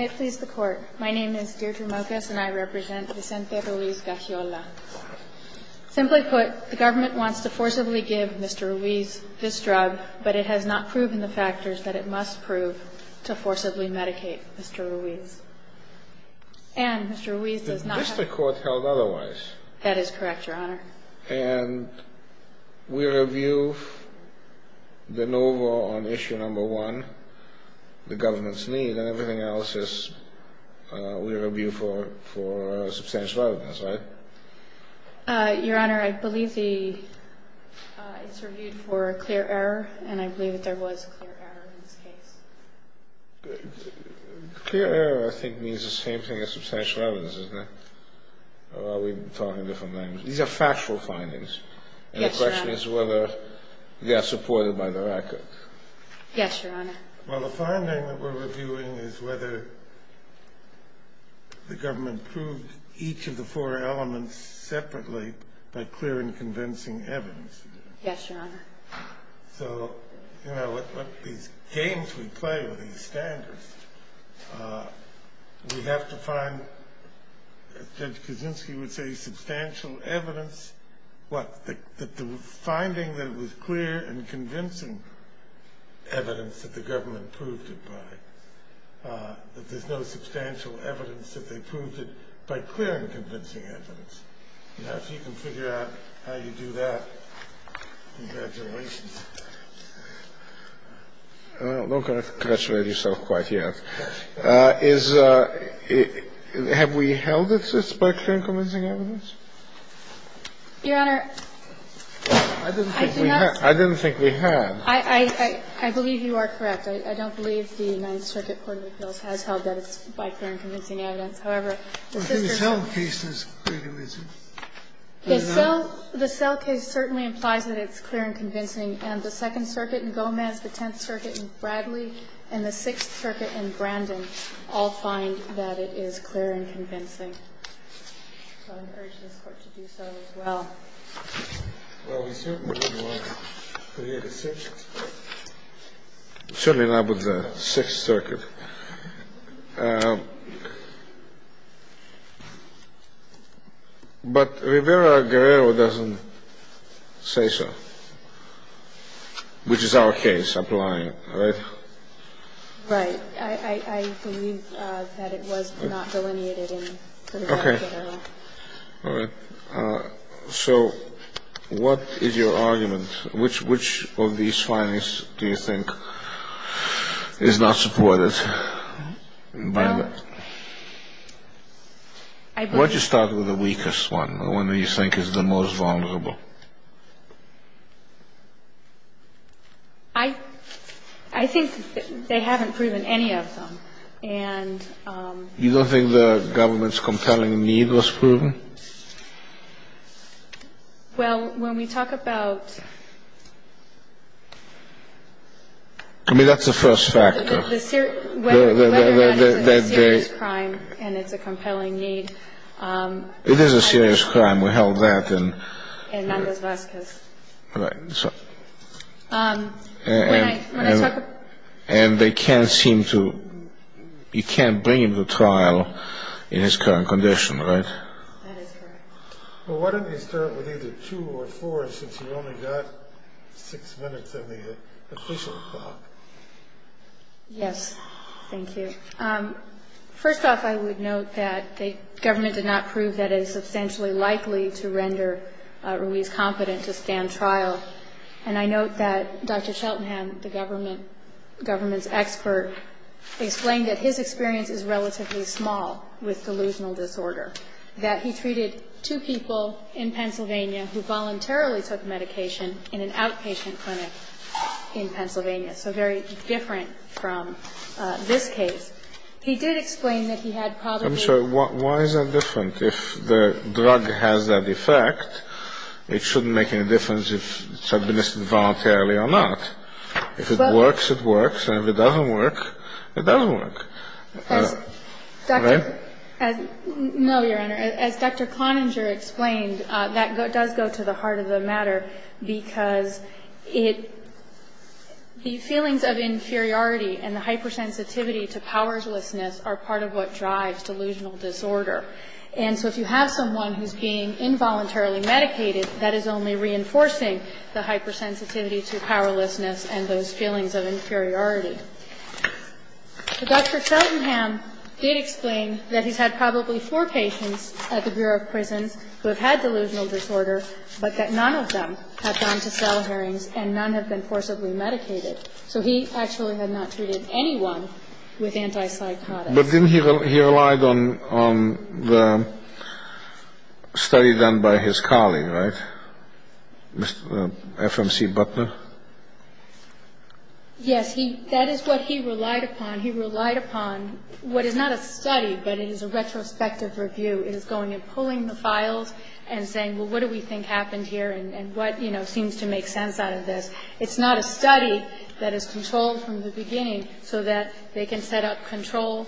I please the court. My name is Deirdre Mocas and I represent Vicente Ruiz-Gaxiola. Simply put, the government wants to forcibly give Mr. Ruiz this drug, but it has not proven the factors that it must prove to forcibly medicate Mr. Ruiz. And Mr. Ruiz does not have... Is this the court held otherwise? That is correct, your honor. And we review the NOVA on issue number one, the government's need, and everything else we review for substantial evidence, right? Your honor, I believe it's reviewed for clear error, and I believe that there was clear error in this case. Clear error I think means the same thing as substantial evidence, isn't it? Or are we talking different languages? These are factual findings. Yes, your honor. And the question is whether they are supported by the record. Yes, your honor. Well, the finding that we're reviewing is whether the government proved each of the four elements separately by clear and convincing evidence. Yes, your honor. So, you know, these games we play with these standards, we have to find, as Judge Kuczynski would say, substantial evidence. What? The finding that it was clear and convincing evidence that the government proved it by. That there's no substantial evidence that they proved it by clear and convincing evidence. Now, if you can figure out how you do that, congratulations. I'm not going to congratulate yourself quite yet. Have we held this as by clear and convincing evidence? Your honor, I do not. I didn't think we had. I believe you are correct. I don't believe the United Circuit Court of Appeals has held that it's by clear and convincing evidence. However, the sisters. Well, the Selle case is clear and convincing. The Selle case certainly implies that it's clear and convincing. And the Second Circuit in Gomez, the Tenth Circuit in Bradley, and the Sixth Circuit in Brandon all find that it is clear and convincing. So I would urge this Court to do so as well. Well, we certainly would want clear decisions. Certainly not with the Sixth Circuit. But Rivera-Guerrero doesn't say so, which is our case applying, right? Right. I believe that it was not delineated in Rivera-Guerrero. Okay. All right. So what is your argument? Which of these findings do you think is not supported by that? Well, I believe. Why don't you start with the weakest one, the one that you think is the most vulnerable? I think they haven't proven any of them. And you don't think the government's compelling need was proven? Well, when we talk about the serious crime, and it's a compelling need. I mean, that's the first factor. It is a serious crime. We held that in. In Nanda's last case. Right. And they can't seem to, you can't bring him to trial in his current condition, right? That is correct. Well, why don't you start with either two or four, since you've only got six minutes in the official talk? Yes. Thank you. First off, I would note that the government did not prove that it is substantially likely to render Ruiz competent to stand trial. And I note that Dr. Cheltenham, the government's expert, explained that his experience is relatively small with delusional disorder, that he treated two people in Pennsylvania who voluntarily took medication in an outpatient clinic in Pennsylvania. So very different from this case. He did explain that he had probably. I'm sorry. Why is that different? If the drug has that effect, it shouldn't make any difference if it's administered voluntarily or not. If it works, it works. And if it doesn't work, it doesn't work. Right? No, Your Honor. As Dr. Cloninger explained, that does go to the heart of the matter because it, the feelings of inferiority and the hypersensitivity to powerlessness are part of what drives delusional disorder. And so if you have someone who's being involuntarily medicated, that is only reinforcing the hypersensitivity to powerlessness and those feelings of inferiority. Dr. Cheltenham did explain that he's had probably four patients at the Bureau of Prisons who have had delusional disorder, but that none of them have gone to cell hearings and none have been forcibly medicated. So he actually had not treated anyone with antipsychotics. But didn't he rely on the study done by his colleague, right? Mr. F.M.C. Butler? Yes. That is what he relied upon. He relied upon what is not a study, but it is a retrospective review. It is going and pulling the files and saying, well, what do we think happened here and what, you know, seems to make sense out of this. It's not a study that is controlled from the beginning so that they can set up control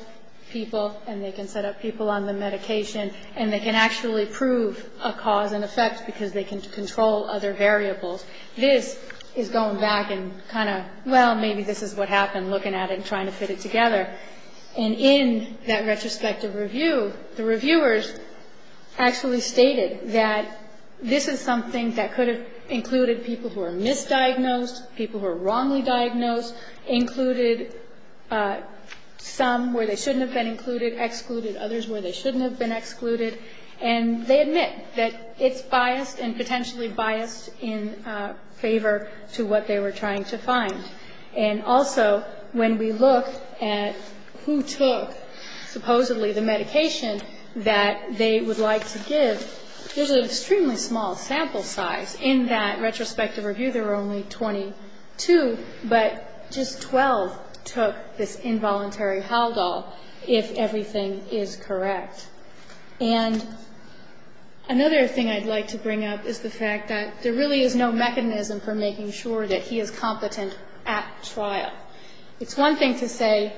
people and they can set up people on the medication and they can actually prove a cause and effect because they can control other variables. This is going back and kind of, well, maybe this is what happened, looking at it and trying to fit it together. And in that retrospective review, the reviewers actually stated that this is something that could have included people who are misdiagnosed, people who are wrongly diagnosed, included some where they shouldn't have been included, excluded others where they shouldn't have been excluded. And they admit that it's biased and potentially biased in favor to what they were trying to find. And also when we look at who took supposedly the medication that they would like to give, there's an extremely small sample size in that retrospective review. There were only 22, but just 12 took this involuntary Haldol if everything is correct. And another thing I'd like to bring up is the fact that there really is no mechanism for making sure that he is competent at trial. It's one thing to say,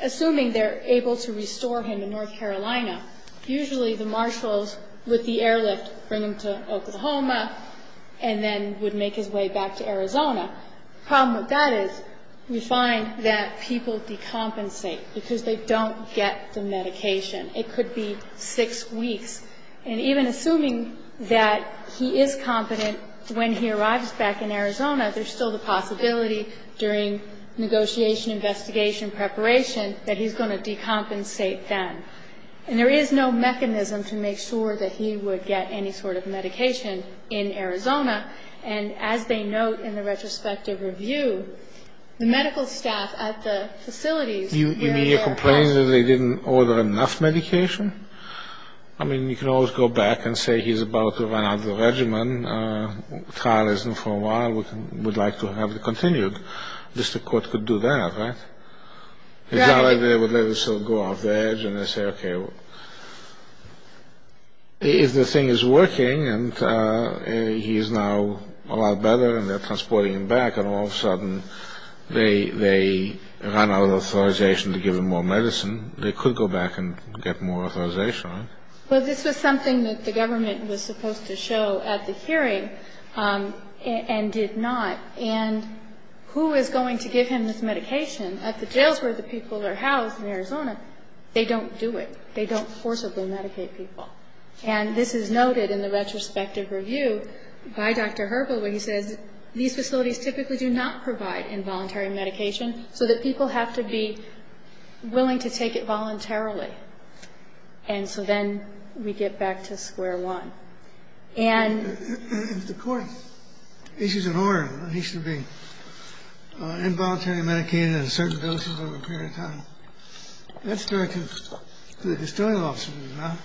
assuming they're able to restore him to North Carolina, usually the marshals with the airlift bring him to Oklahoma and then would make his way back to Arizona. The problem with that is we find that people decompensate because they don't get the medication. It could be six weeks. And even assuming that he is competent when he arrives back in Arizona, there's still the possibility during negotiation, investigation, preparation, that he's going to decompensate then. And there is no mechanism to make sure that he would get any sort of medication in Arizona. And as they note in the retrospective review, the medical staff at the facilities... You mean you're complaining that they didn't order enough medication? I mean, you can always go back and say he's about to run out of the regimen. The trial isn't for a while. We'd like to have it continued. Just the court could do that, right? It's not like they would let it sort of go off the edge and they say, okay, if the thing is working and he is now a lot better and they're transporting him back, and all of a sudden they run out of authorization to give him more medicine, they could go back and get more authorization, right? Well, this was something that the government was supposed to show at the hearing and did not. And who is going to give him this medication at the jails where the people are housed in Arizona? They don't do it. They don't forcibly medicate people. And this is noted in the retrospective review by Dr. Herbold where he says these facilities typically do not provide involuntary medication so that people have to be willing to take it voluntarily. And so then we get back to square one. If the court issues an order that he should be involuntarily medicated in certain doses over a period of time, that's directed to the distilling offices, right?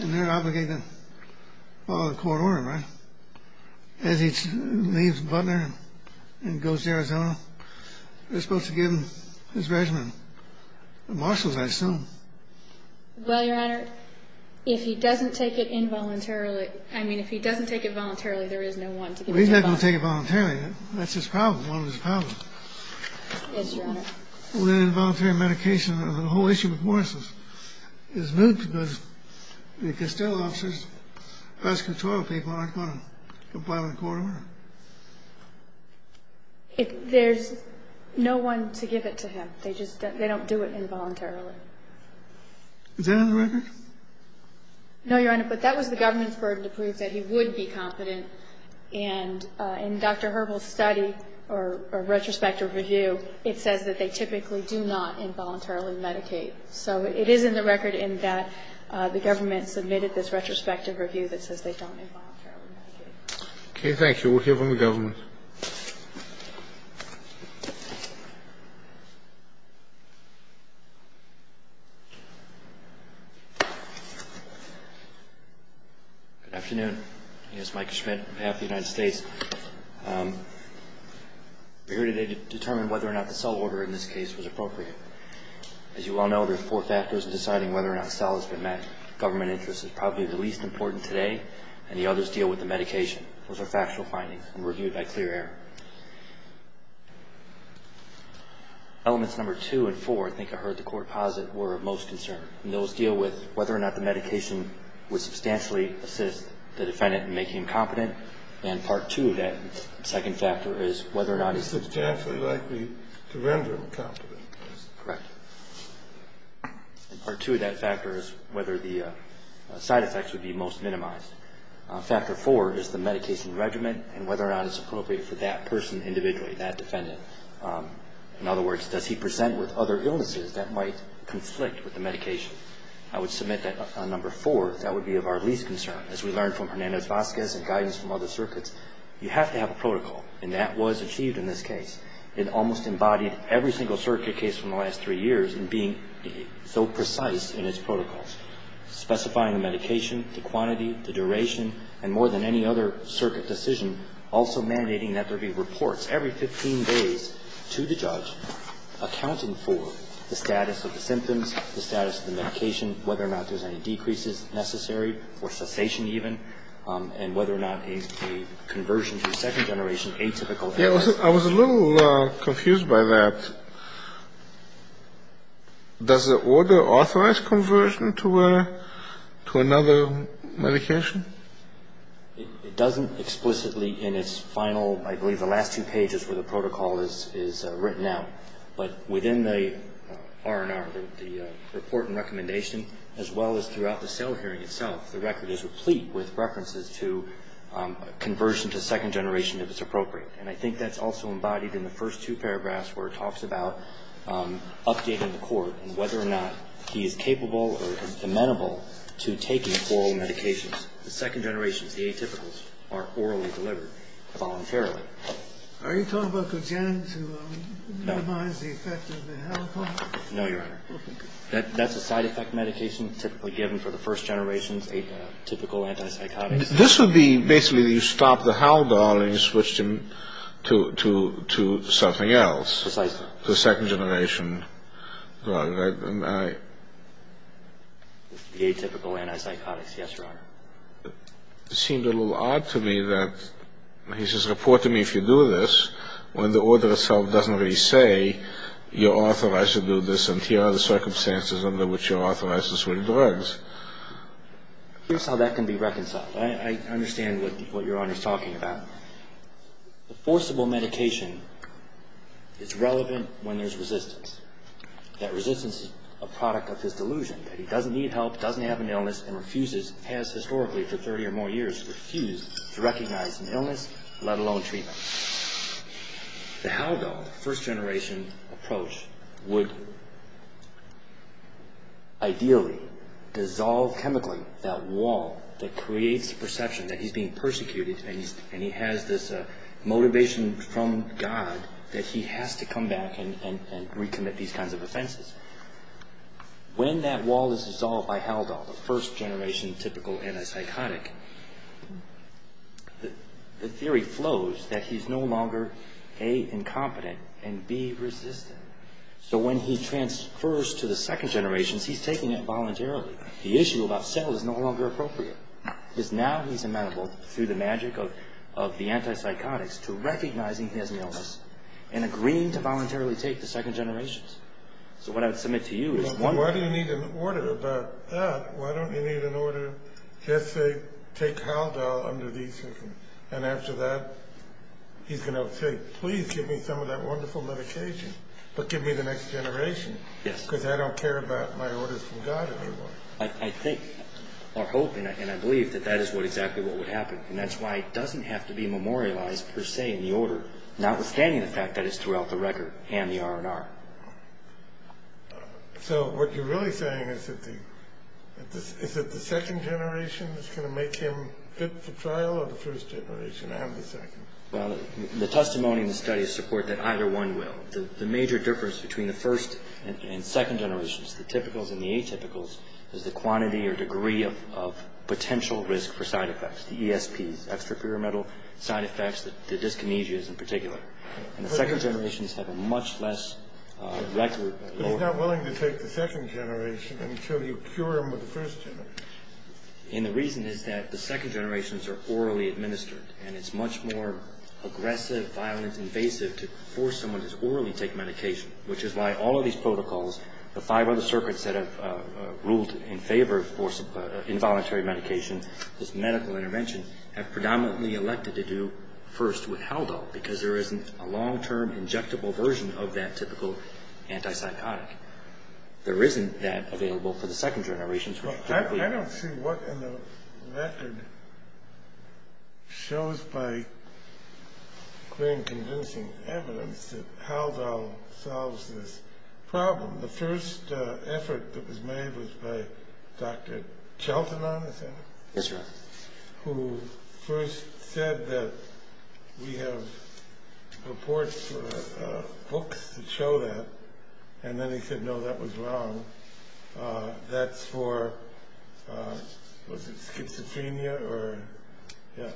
And they're obligated to follow the court order, right? As he leaves Butler and goes to Arizona, they're supposed to give him his regimen. The marshals, I assume. Well, Your Honor, if he doesn't take it involuntarily, I mean if he doesn't take it voluntarily, there is no one to give it to him voluntarily. Well, he's not going to take it voluntarily. That's his problem, one of his problems. Yes, Your Honor. With involuntary medication, the whole issue with marshals is moot because distilling offices, hospital people aren't going to comply with the court order. There's no one to give it to him. They just don't do it involuntarily. Is that on the record? No, Your Honor, but that was the government's burden to prove that he would be competent. And in Dr. Herbold's study or retrospective review, it says that they typically do not involuntarily medicate. So it is in the record in that the government submitted this retrospective review that says they don't involuntarily medicate. Okay, thank you. We'll hear from the government. Good afternoon. I'm Mike Schmidt on behalf of the United States. We're here today to determine whether or not the cell order in this case was appropriate. As you all know, there are four factors in deciding whether or not a cell has been met. Government interest is probably the least important today, and the others deal with the medication. Those are factual findings and reviewed by clear error. Elements number two and four, I think I heard the court posit, were of most concern. And those deal with whether or not the medication would substantially assist the defendant in making him competent. And part two of that second factor is whether or not he's substantially likely to render him competent. Correct. And part two of that factor is whether the side effects would be most minimized. Factor four is the medication regimen and whether or not it's appropriate for that person individually, that defendant. In other words, does he present with other illnesses that might conflict with the medication? I would submit that on number four, that would be of our least concern. As we learned from Hernandez-Vazquez and guidance from other circuits, you have to have a protocol. And that was achieved in this case. It almost embodied every single circuit case from the last three years in being so precise in its protocols. Specifying the medication, the quantity, the duration, and more than any other circuit decision, also mandating that there be reports every 15 days to the judge accounting for the status of the symptoms, the status of the medication, whether or not there's any decreases necessary or cessation even, and whether or not a conversion to a second generation atypical evidence. I was a little confused by that. Does the order authorize conversion to another medication? It doesn't explicitly in its final, I believe the last two pages where the protocol is written out. But within the R&R, the report and recommendation, as well as throughout the sale hearing itself, the record is replete with references to conversion to second generation if it's appropriate. And I think that's also embodied in the first two paragraphs where it talks about updating the court and whether or not he is capable or amenable to taking oral medications. The second generations, the atypicals, are orally delivered voluntarily. Are you talking about cogenic to minimize the effect of the halopone? No, Your Honor. That's a side effect medication typically given for the first generations, typical antipsychotics. This would be basically you stop the Hal-Doll and you switched him to something else. Precisely. The second generation drug. The atypical antipsychotics, yes, Your Honor. It seemed a little odd to me that he says report to me if you do this when the order itself doesn't really say you're authorized to do this and here are the circumstances under which you're authorized to switch drugs. Here's how that can be reconciled. I understand what Your Honor is talking about. The forcible medication is relevant when there's resistance. That resistance is a product of his delusion that he doesn't need help, doesn't have an illness, and has historically for 30 or more years refused to recognize an illness, let alone treatment. The Hal-Doll, the first generation approach, would ideally dissolve chemically that wall that creates the perception that he's being persecuted and he has this motivation from God that he has to come back and recommit these kinds of offenses. When that wall is dissolved by Hal-Doll, the first generation typical antipsychotic, the theory flows that he's no longer A, incompetent, and B, resistant. So when he transfers to the second generation, he's taking it voluntarily. The issue about cell is no longer appropriate because now he's amenable, through the magic of the antipsychotics, to recognizing he has an illness and agreeing to voluntarily take the second generation. So what I would submit to you is one... take Hal-Doll under these circumstances. And after that, he's going to say, please give me some of that wonderful medication, but give me the next generation. Yes. Because I don't care about my orders from God anymore. I think, or hope, and I believe that that is exactly what would happen. And that's why it doesn't have to be memorialized, per se, in the order, notwithstanding the fact that it's throughout the record and the R&R. So what you're really saying is that the second generation is going to make him fit for trial, or the first generation and the second? Well, the testimony and the study support that either one will. The major difference between the first and second generations, the typicals and the atypicals, is the quantity or degree of potential risk for side effects, the ESPs, extraperimental side effects, the dyskinesias in particular. And the second generations have a much less record. But he's not willing to take the second generation until you cure him with the first generation. And the reason is that the second generations are orally administered, and it's much more aggressive, violent, invasive to force someone to orally take medication, which is why all of these protocols, the five other circuits that have ruled in favor of involuntary medication, this medical intervention, have predominantly elected to do first with Hal-Doll because there isn't a long-term injectable version of that typical antipsychotic. There isn't that available for the second generations. I don't see what in the record shows by clear and convincing evidence that Hal-Doll solves this problem. The first effort that was made was by Dr. Cheltenham, is that it? Yes, Your Honor. Who first said that we have reports for hooks that show that. And then he said, no, that was wrong. That's for, was it schizophrenia or, yeah.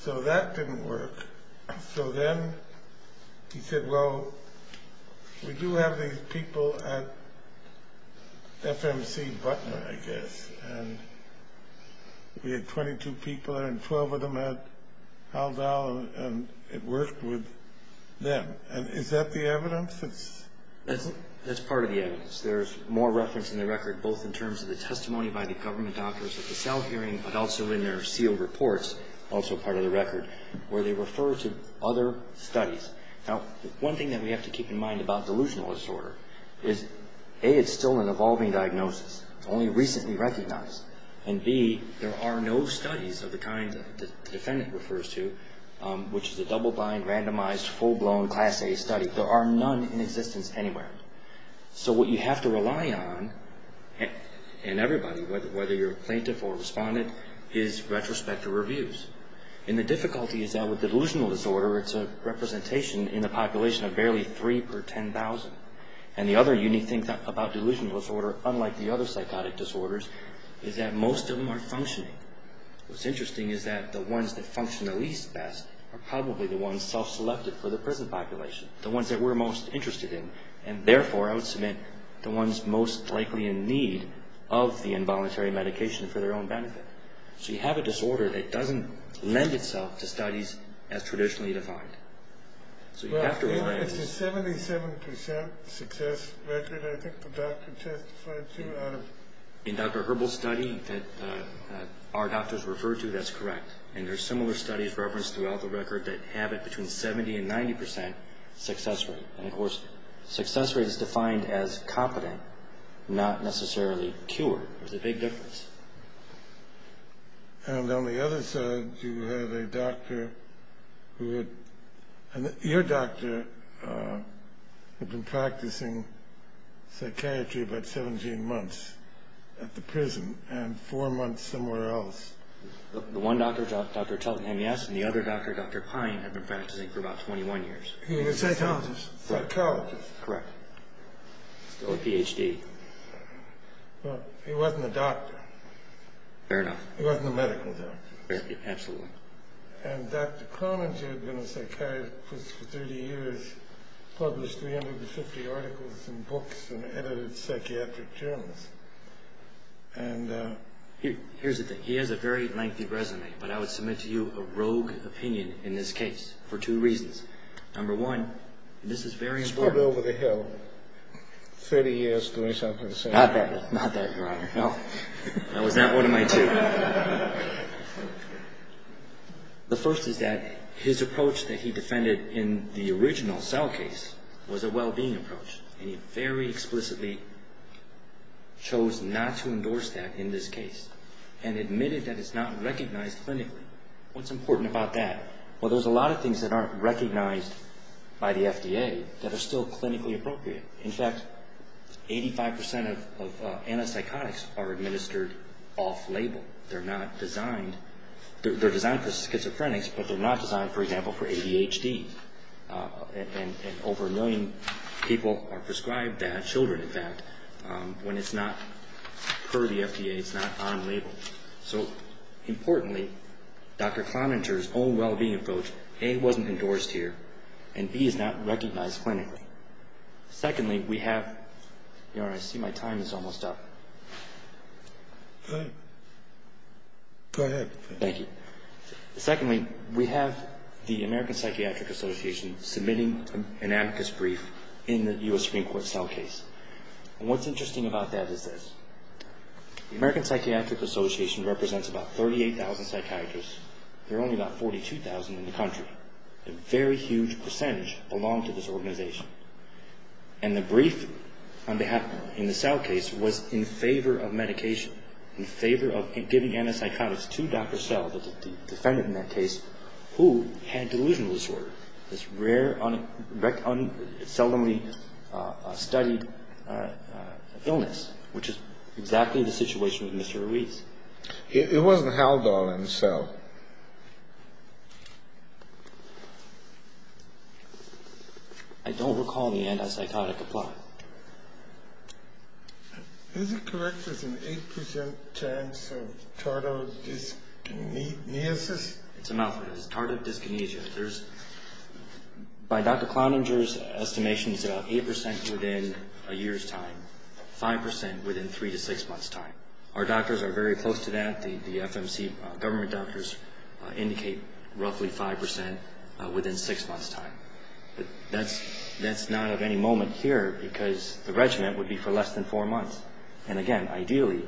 So that didn't work. So then he said, well, we do have these people at FMC Butner, I guess. And we had 22 people and 12 of them had Hal-Doll and it worked with them. And is that the evidence? That's part of the evidence. There's more reference in the record both in terms of the testimony by the government doctors at the South hearing but also in their sealed reports, also part of the record, where they refer to other studies. Now, one thing that we have to keep in mind about delusional disorder is, A, it's still an evolving diagnosis. It's only recently recognized. And, B, there are no studies of the kind that the defendant refers to, which is a double-blind, randomized, full-blown class A study. There are none in existence anywhere. So what you have to rely on, and everybody, whether you're a plaintiff or a respondent, is retrospective reviews. And the difficulty is that with delusional disorder, it's a representation in the population of barely three per 10,000. And the other unique thing about delusional disorder, unlike the other psychotic disorders, is that most of them are functioning. What's interesting is that the ones that function the least best are probably the ones self-selected for the prison population, the ones that we're most interested in, and therefore I would submit the ones most likely in need of the involuntary medication for their own benefit. So you have a disorder that doesn't lend itself to studies as traditionally defined. Well, it's a 77% success record. I think the doctor testified to that. In Dr. Herbal's study that our doctors referred to, that's correct. And there are similar studies referenced throughout the record that have it between 70% and 90% success rate. And, of course, success rate is defined as competent, not necessarily cured. There's a big difference. And on the other side, you have a doctor who had... Your doctor had been practicing psychiatry about 17 months at the prison and four months somewhere else. The one doctor, Dr. Tellingham, yes, and the other doctor, Dr. Pine, had been practicing for about 21 years. He was a psychologist. Psychologist. Correct. Still a Ph.D. Well, he wasn't a doctor. Fair enough. He wasn't a medical doctor. Absolutely. And Dr. Cronin, who had been a psychiatrist for 30 years, published 350 articles in books and edited psychiatric journals. Here's the thing. He has a very lengthy resume, but I would submit to you a rogue opinion in this case for two reasons. Number one, this is very important. 30 years doing something the same. Not that, Your Honor. No, that was not one of my two. The first is that his approach that he defended in the original cell case was a well-being approach, and he very explicitly chose not to endorse that in this case and admitted that it's not recognized clinically. What's important about that? Well, there's a lot of things that aren't recognized by the FDA that are still clinically appropriate. In fact, 85% of antipsychotics are administered off-label. They're designed for schizophrenics, but they're not designed, for example, for ADHD. And over a million people are prescribed that, children, in fact, when it's not per the FDA, it's not on-label. So, importantly, Dr. Cloninger's own well-being approach, A, wasn't endorsed here, and B, is not recognized clinically. Secondly, we have... Your Honor, I see my time is almost up. Go ahead. Thank you. Secondly, we have the American Psychiatric Association submitting an amicus brief in the U.S. Supreme Court cell case. And what's interesting about that is this. The American Psychiatric Association represents about 38,000 psychiatrists. There are only about 42,000 in the country. But a very huge percentage belong to this organization. And the brief in the cell case was in favor of medication, in favor of giving antipsychotics to Dr. Sell, the defendant in that case, who had delusional disorder, this rare, seldomly studied illness, which is exactly the situation with Mr. Ruiz. It wasn't Haldol in the cell. I don't recall the antipsychotic applied. Is it correct there's an 8% chance of tardive dyskinesia? It's a mouthful. It's tardive dyskinesia. There's... By Dr. Cloninger's estimation, it's about 8% within a year's time, 5% within 3 to 6 months' time. Our doctors are very close to that. The FMC government doctors indicate roughly 5% within 6 months' time. That's not of any moment here because the regimen would be for less than 4 months. And, again, ideally,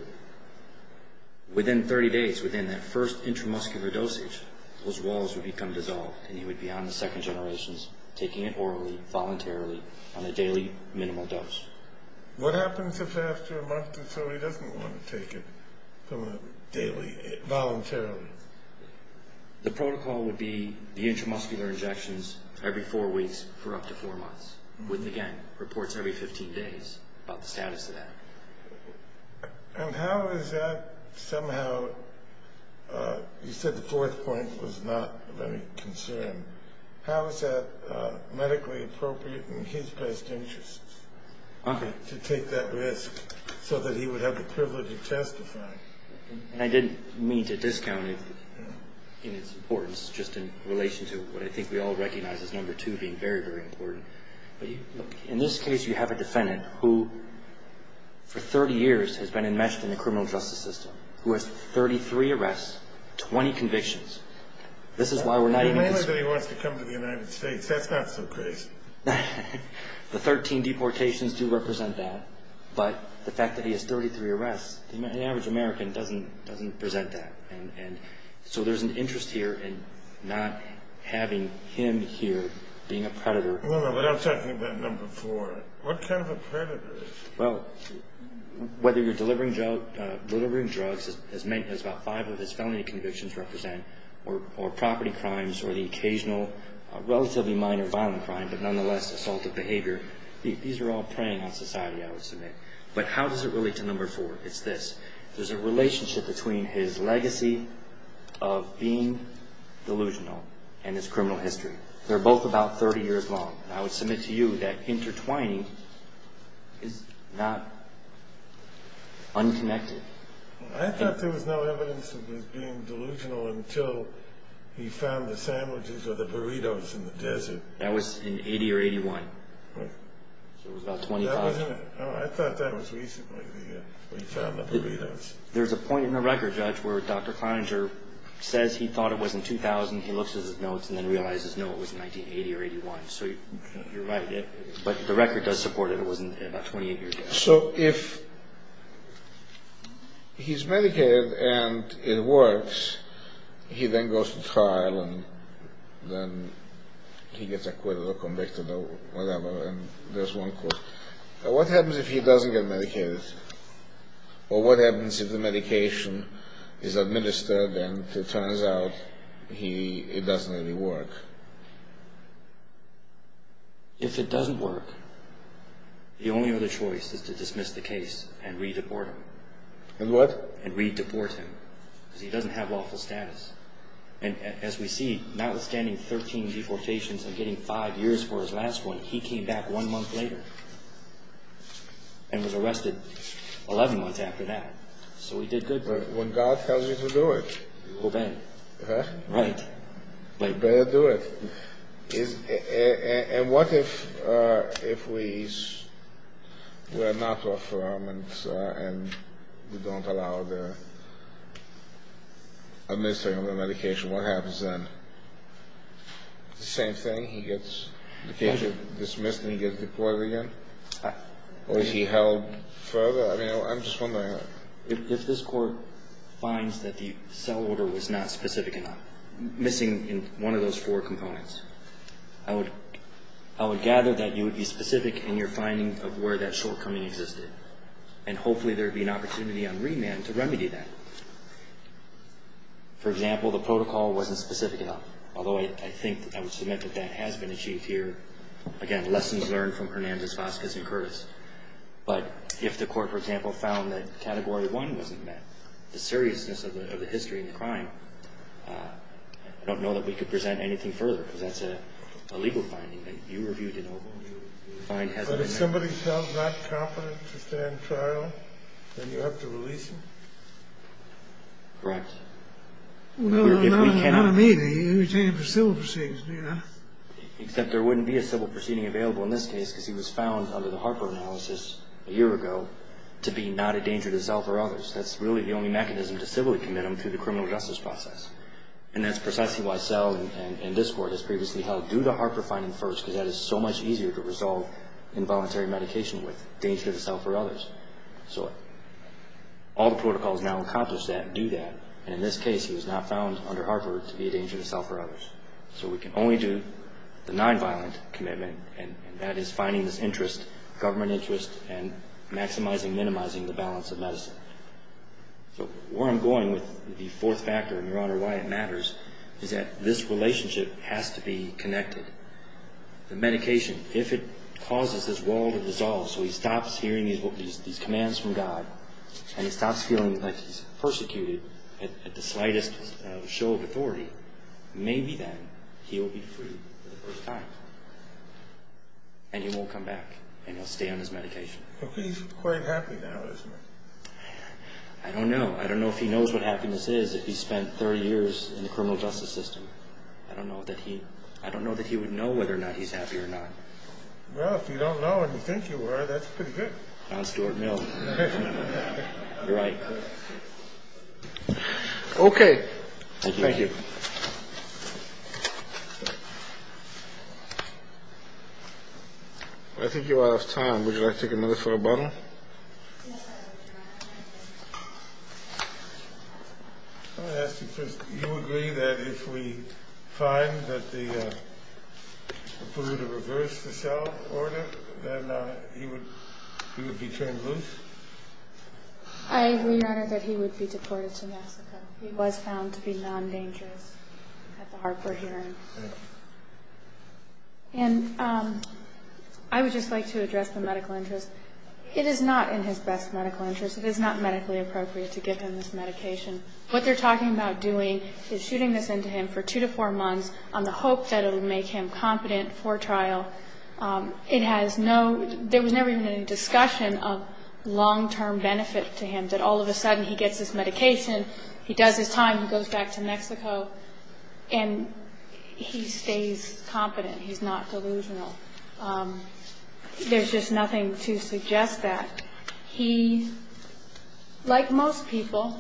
within 30 days, within that first intramuscular dosage, those walls would become dissolved, and he would be on the second generations, taking it orally, voluntarily, on a daily minimal dose. What happens if after a month or so he doesn't want to take it from a daily... voluntarily? The protocol would be the intramuscular injections every 4 weeks for up to 4 months, with, again, reports every 15 days about the status of that. And how is that somehow... You said the fourth point was not of any concern. How is that medically appropriate in his best interests? To take that risk so that he would have the privilege of testifying. And I didn't mean to discount it in its importance, just in relation to what I think we all recognize as number 2 being very, very important. But, look, in this case, you have a defendant who, for 30 years, has been enmeshed in the criminal justice system, who has 33 arrests, 20 convictions. This is why we're not even... Mainly that he wants to come to the United States. That's not so crazy. The 13 deportations do represent that. But the fact that he has 33 arrests, the average American doesn't present that. And so there's an interest here in not having him here being a predator. No, no, but I'm talking about number 4. What kind of a predator is he? Well, whether you're delivering drugs, as about 5 of his felony convictions represent, or property crimes, or the occasional, relatively minor violent crime, but nonetheless assaultive behavior, these are all preying on society, I would submit. But how does it relate to number 4? It's this. There's a relationship between his legacy of being delusional and his criminal history. They're both about 30 years long. And I would submit to you that intertwining is not unconnected. I thought there was no evidence of his being delusional until he found the sandwiches or the burritos in the desert. That was in 80 or 81. Right. So it was about 25. Oh, I thought that was recently when he found the burritos. There's a point in the record, Judge, where Dr. Cloninger says he thought it was in 2000. He looks at his notes and then realizes, no, it was in 1980 or 81. So you're right. But the record does support it. It was in about 28 years. So if he's medicated and it works, he then goes to trial and then he gets acquitted or convicted or whatever, and there's one court. What happens if he doesn't get medicated? Or what happens if the medication is administered and it turns out it doesn't really work? If it doesn't work, the only other choice is to dismiss the case and re-deport him. And what? And re-deport him because he doesn't have lawful status. And as we see, notwithstanding 13 deportations and getting five years for his last one, he came back one month later and was arrested 11 months after that. So he did good work. When God tells you to do it, you obey. Right. You obey and do it. And what if we're not lawful and we don't allow the administering of the medication? What happens then? The same thing? He gets dismissed and he gets deported again? Or is he held further? I'm just wondering. If this court finds that the cell order was not specific enough, missing one of those four components, I would gather that you would be specific in your finding of where that shortcoming existed, and hopefully there would be an opportunity on remand to remedy that. For example, the protocol wasn't specific enough, although I think I would submit that that has been achieved here. Again, lessons learned from Hernandez, Vasquez, and Curtis. But if the court, for example, found that Category 1 wasn't met, the seriousness of the history of the crime, I don't know that we could present anything further, because that's a legal finding that you reviewed in Oval. But if somebody's held not competent to stand trial, then you have to release him? Correct. Well, no, not immediately. You're taking him for civil proceedings, aren't you? Except there wouldn't be a civil proceeding available in this case, because he was found, under the Harper analysis a year ago, to be not a danger to self or others. That's really the only mechanism to civilly commit him to the criminal justice process. And that's precisely why SEL and this court has previously held, do the Harper finding first, because that is so much easier to resolve involuntary medication with, danger to self or others. So all the protocols now accomplish that and do that, and in this case he was not found under Harper to be a danger to self or others. So we can only do the nonviolent commitment, and that is finding this interest, government interest, and maximizing, minimizing the balance of medicine. So where I'm going with the fourth factor, and, Your Honor, why it matters, is that this relationship has to be connected. The medication, if it causes this wall to dissolve so he stops hearing these commands from God and he stops feeling like he's persecuted at the slightest show of authority, maybe then he'll be free for the first time. And he won't come back, and he'll stay on his medication. But he's quite happy now, isn't he? I don't know. I don't know if he knows what happiness is if he spent 30 years in the criminal justice system. I don't know that he would know whether or not he's happy or not. Well, if you don't know and you think you are, that's pretty good. Don Stewart, no. You're right. Okay. Thank you. Thank you. Well, I think you're out of time. Would you like to take another photo bottle? Yes, I would, Your Honor. I want to ask you first, do you agree that if we find that they were to reverse the cell order, then he would be turned loose? I agree, Your Honor, that he would be deported to Mexico. He was found to be non-dangerous at the heart for hearing. Thank you. And I would just like to address the medical interest. It is not in his best medical interest. It is not medically appropriate to give him this medication. What they're talking about doing is shooting this into him for two to four months on the hope that it will make him competent for trial. It has no ñ there was never even any discussion of long-term benefit to him, that all of a sudden he gets this medication, he does his time, he goes back to Mexico. And he stays competent. He's not delusional. There's just nothing to suggest that. He, like most people,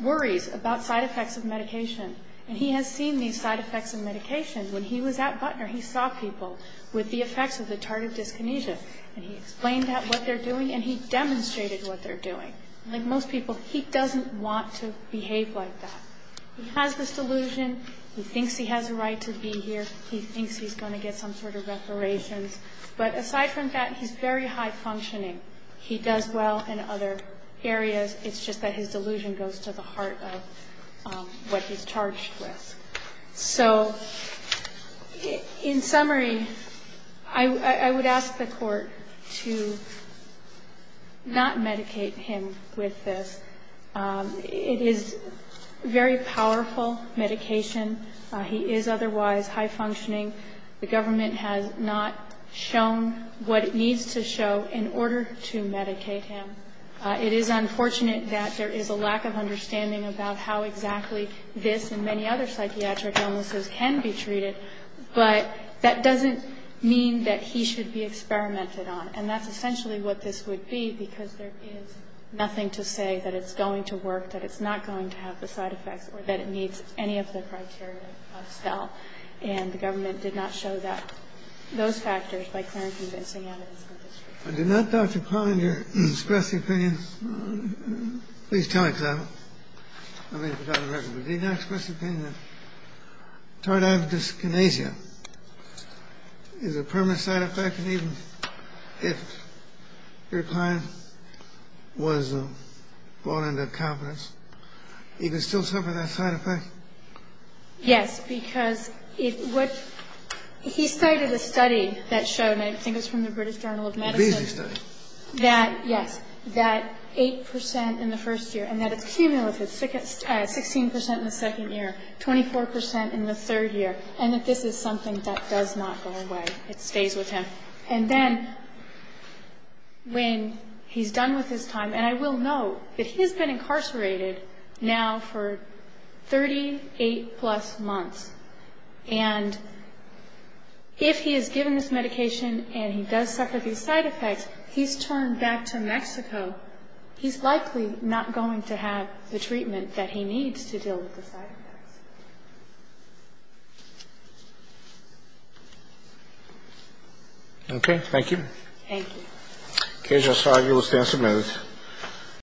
worries about side effects of medication. And he has seen these side effects of medication. When he was at Butner, he saw people with the effects of the tardive dyskinesia. And he explained that, what they're doing, and he demonstrated what they're doing. Like most people, he doesn't want to behave like that. He has this delusion. He thinks he has a right to be here. He thinks he's going to get some sort of reparations. But aside from that, he's very high-functioning. He does well in other areas. It's just that his delusion goes to the heart of what he's charged with. So in summary, I would ask the Court to not medicate him with this. It is very powerful medication. He is otherwise high-functioning. The government has not shown what it needs to show in order to medicate him. It is unfortunate that there is a lack of understanding about how exactly this and many other psychiatric illnesses can be treated. But that doesn't mean that he should be experimented on. And that's essentially what this would be, because there is nothing to say that it's going to work, that it's not going to have the side effects, or that it meets any of the criteria of stealth. And the government did not show that, those factors, by clear and convincing evidence in this case. I do not, Dr. Klein, express the opinion. Please tell me, because I may have forgotten the record. But do you not express the opinion that tardive dyskinesia is a permanent side effect, and even if your client was brought into confidence, he could still suffer that side effect? Yes, because he cited a study that showed, and I think it was from the British Journal of Medicine, that, yes, that 8% in the first year, and that it's cumulative, 16% in the second year, 24% in the third year, and that this is something that does not go away. It stays with him. And then when he's done with his time, and I will note that he has been incarcerated now for 38-plus months. And if he is given this medication and he does suffer these side effects, he's turned back to Mexico. He's likely not going to have the treatment that he needs to deal with the side effects. Okay. Thank you. Thank you. Okay. Just five minutes.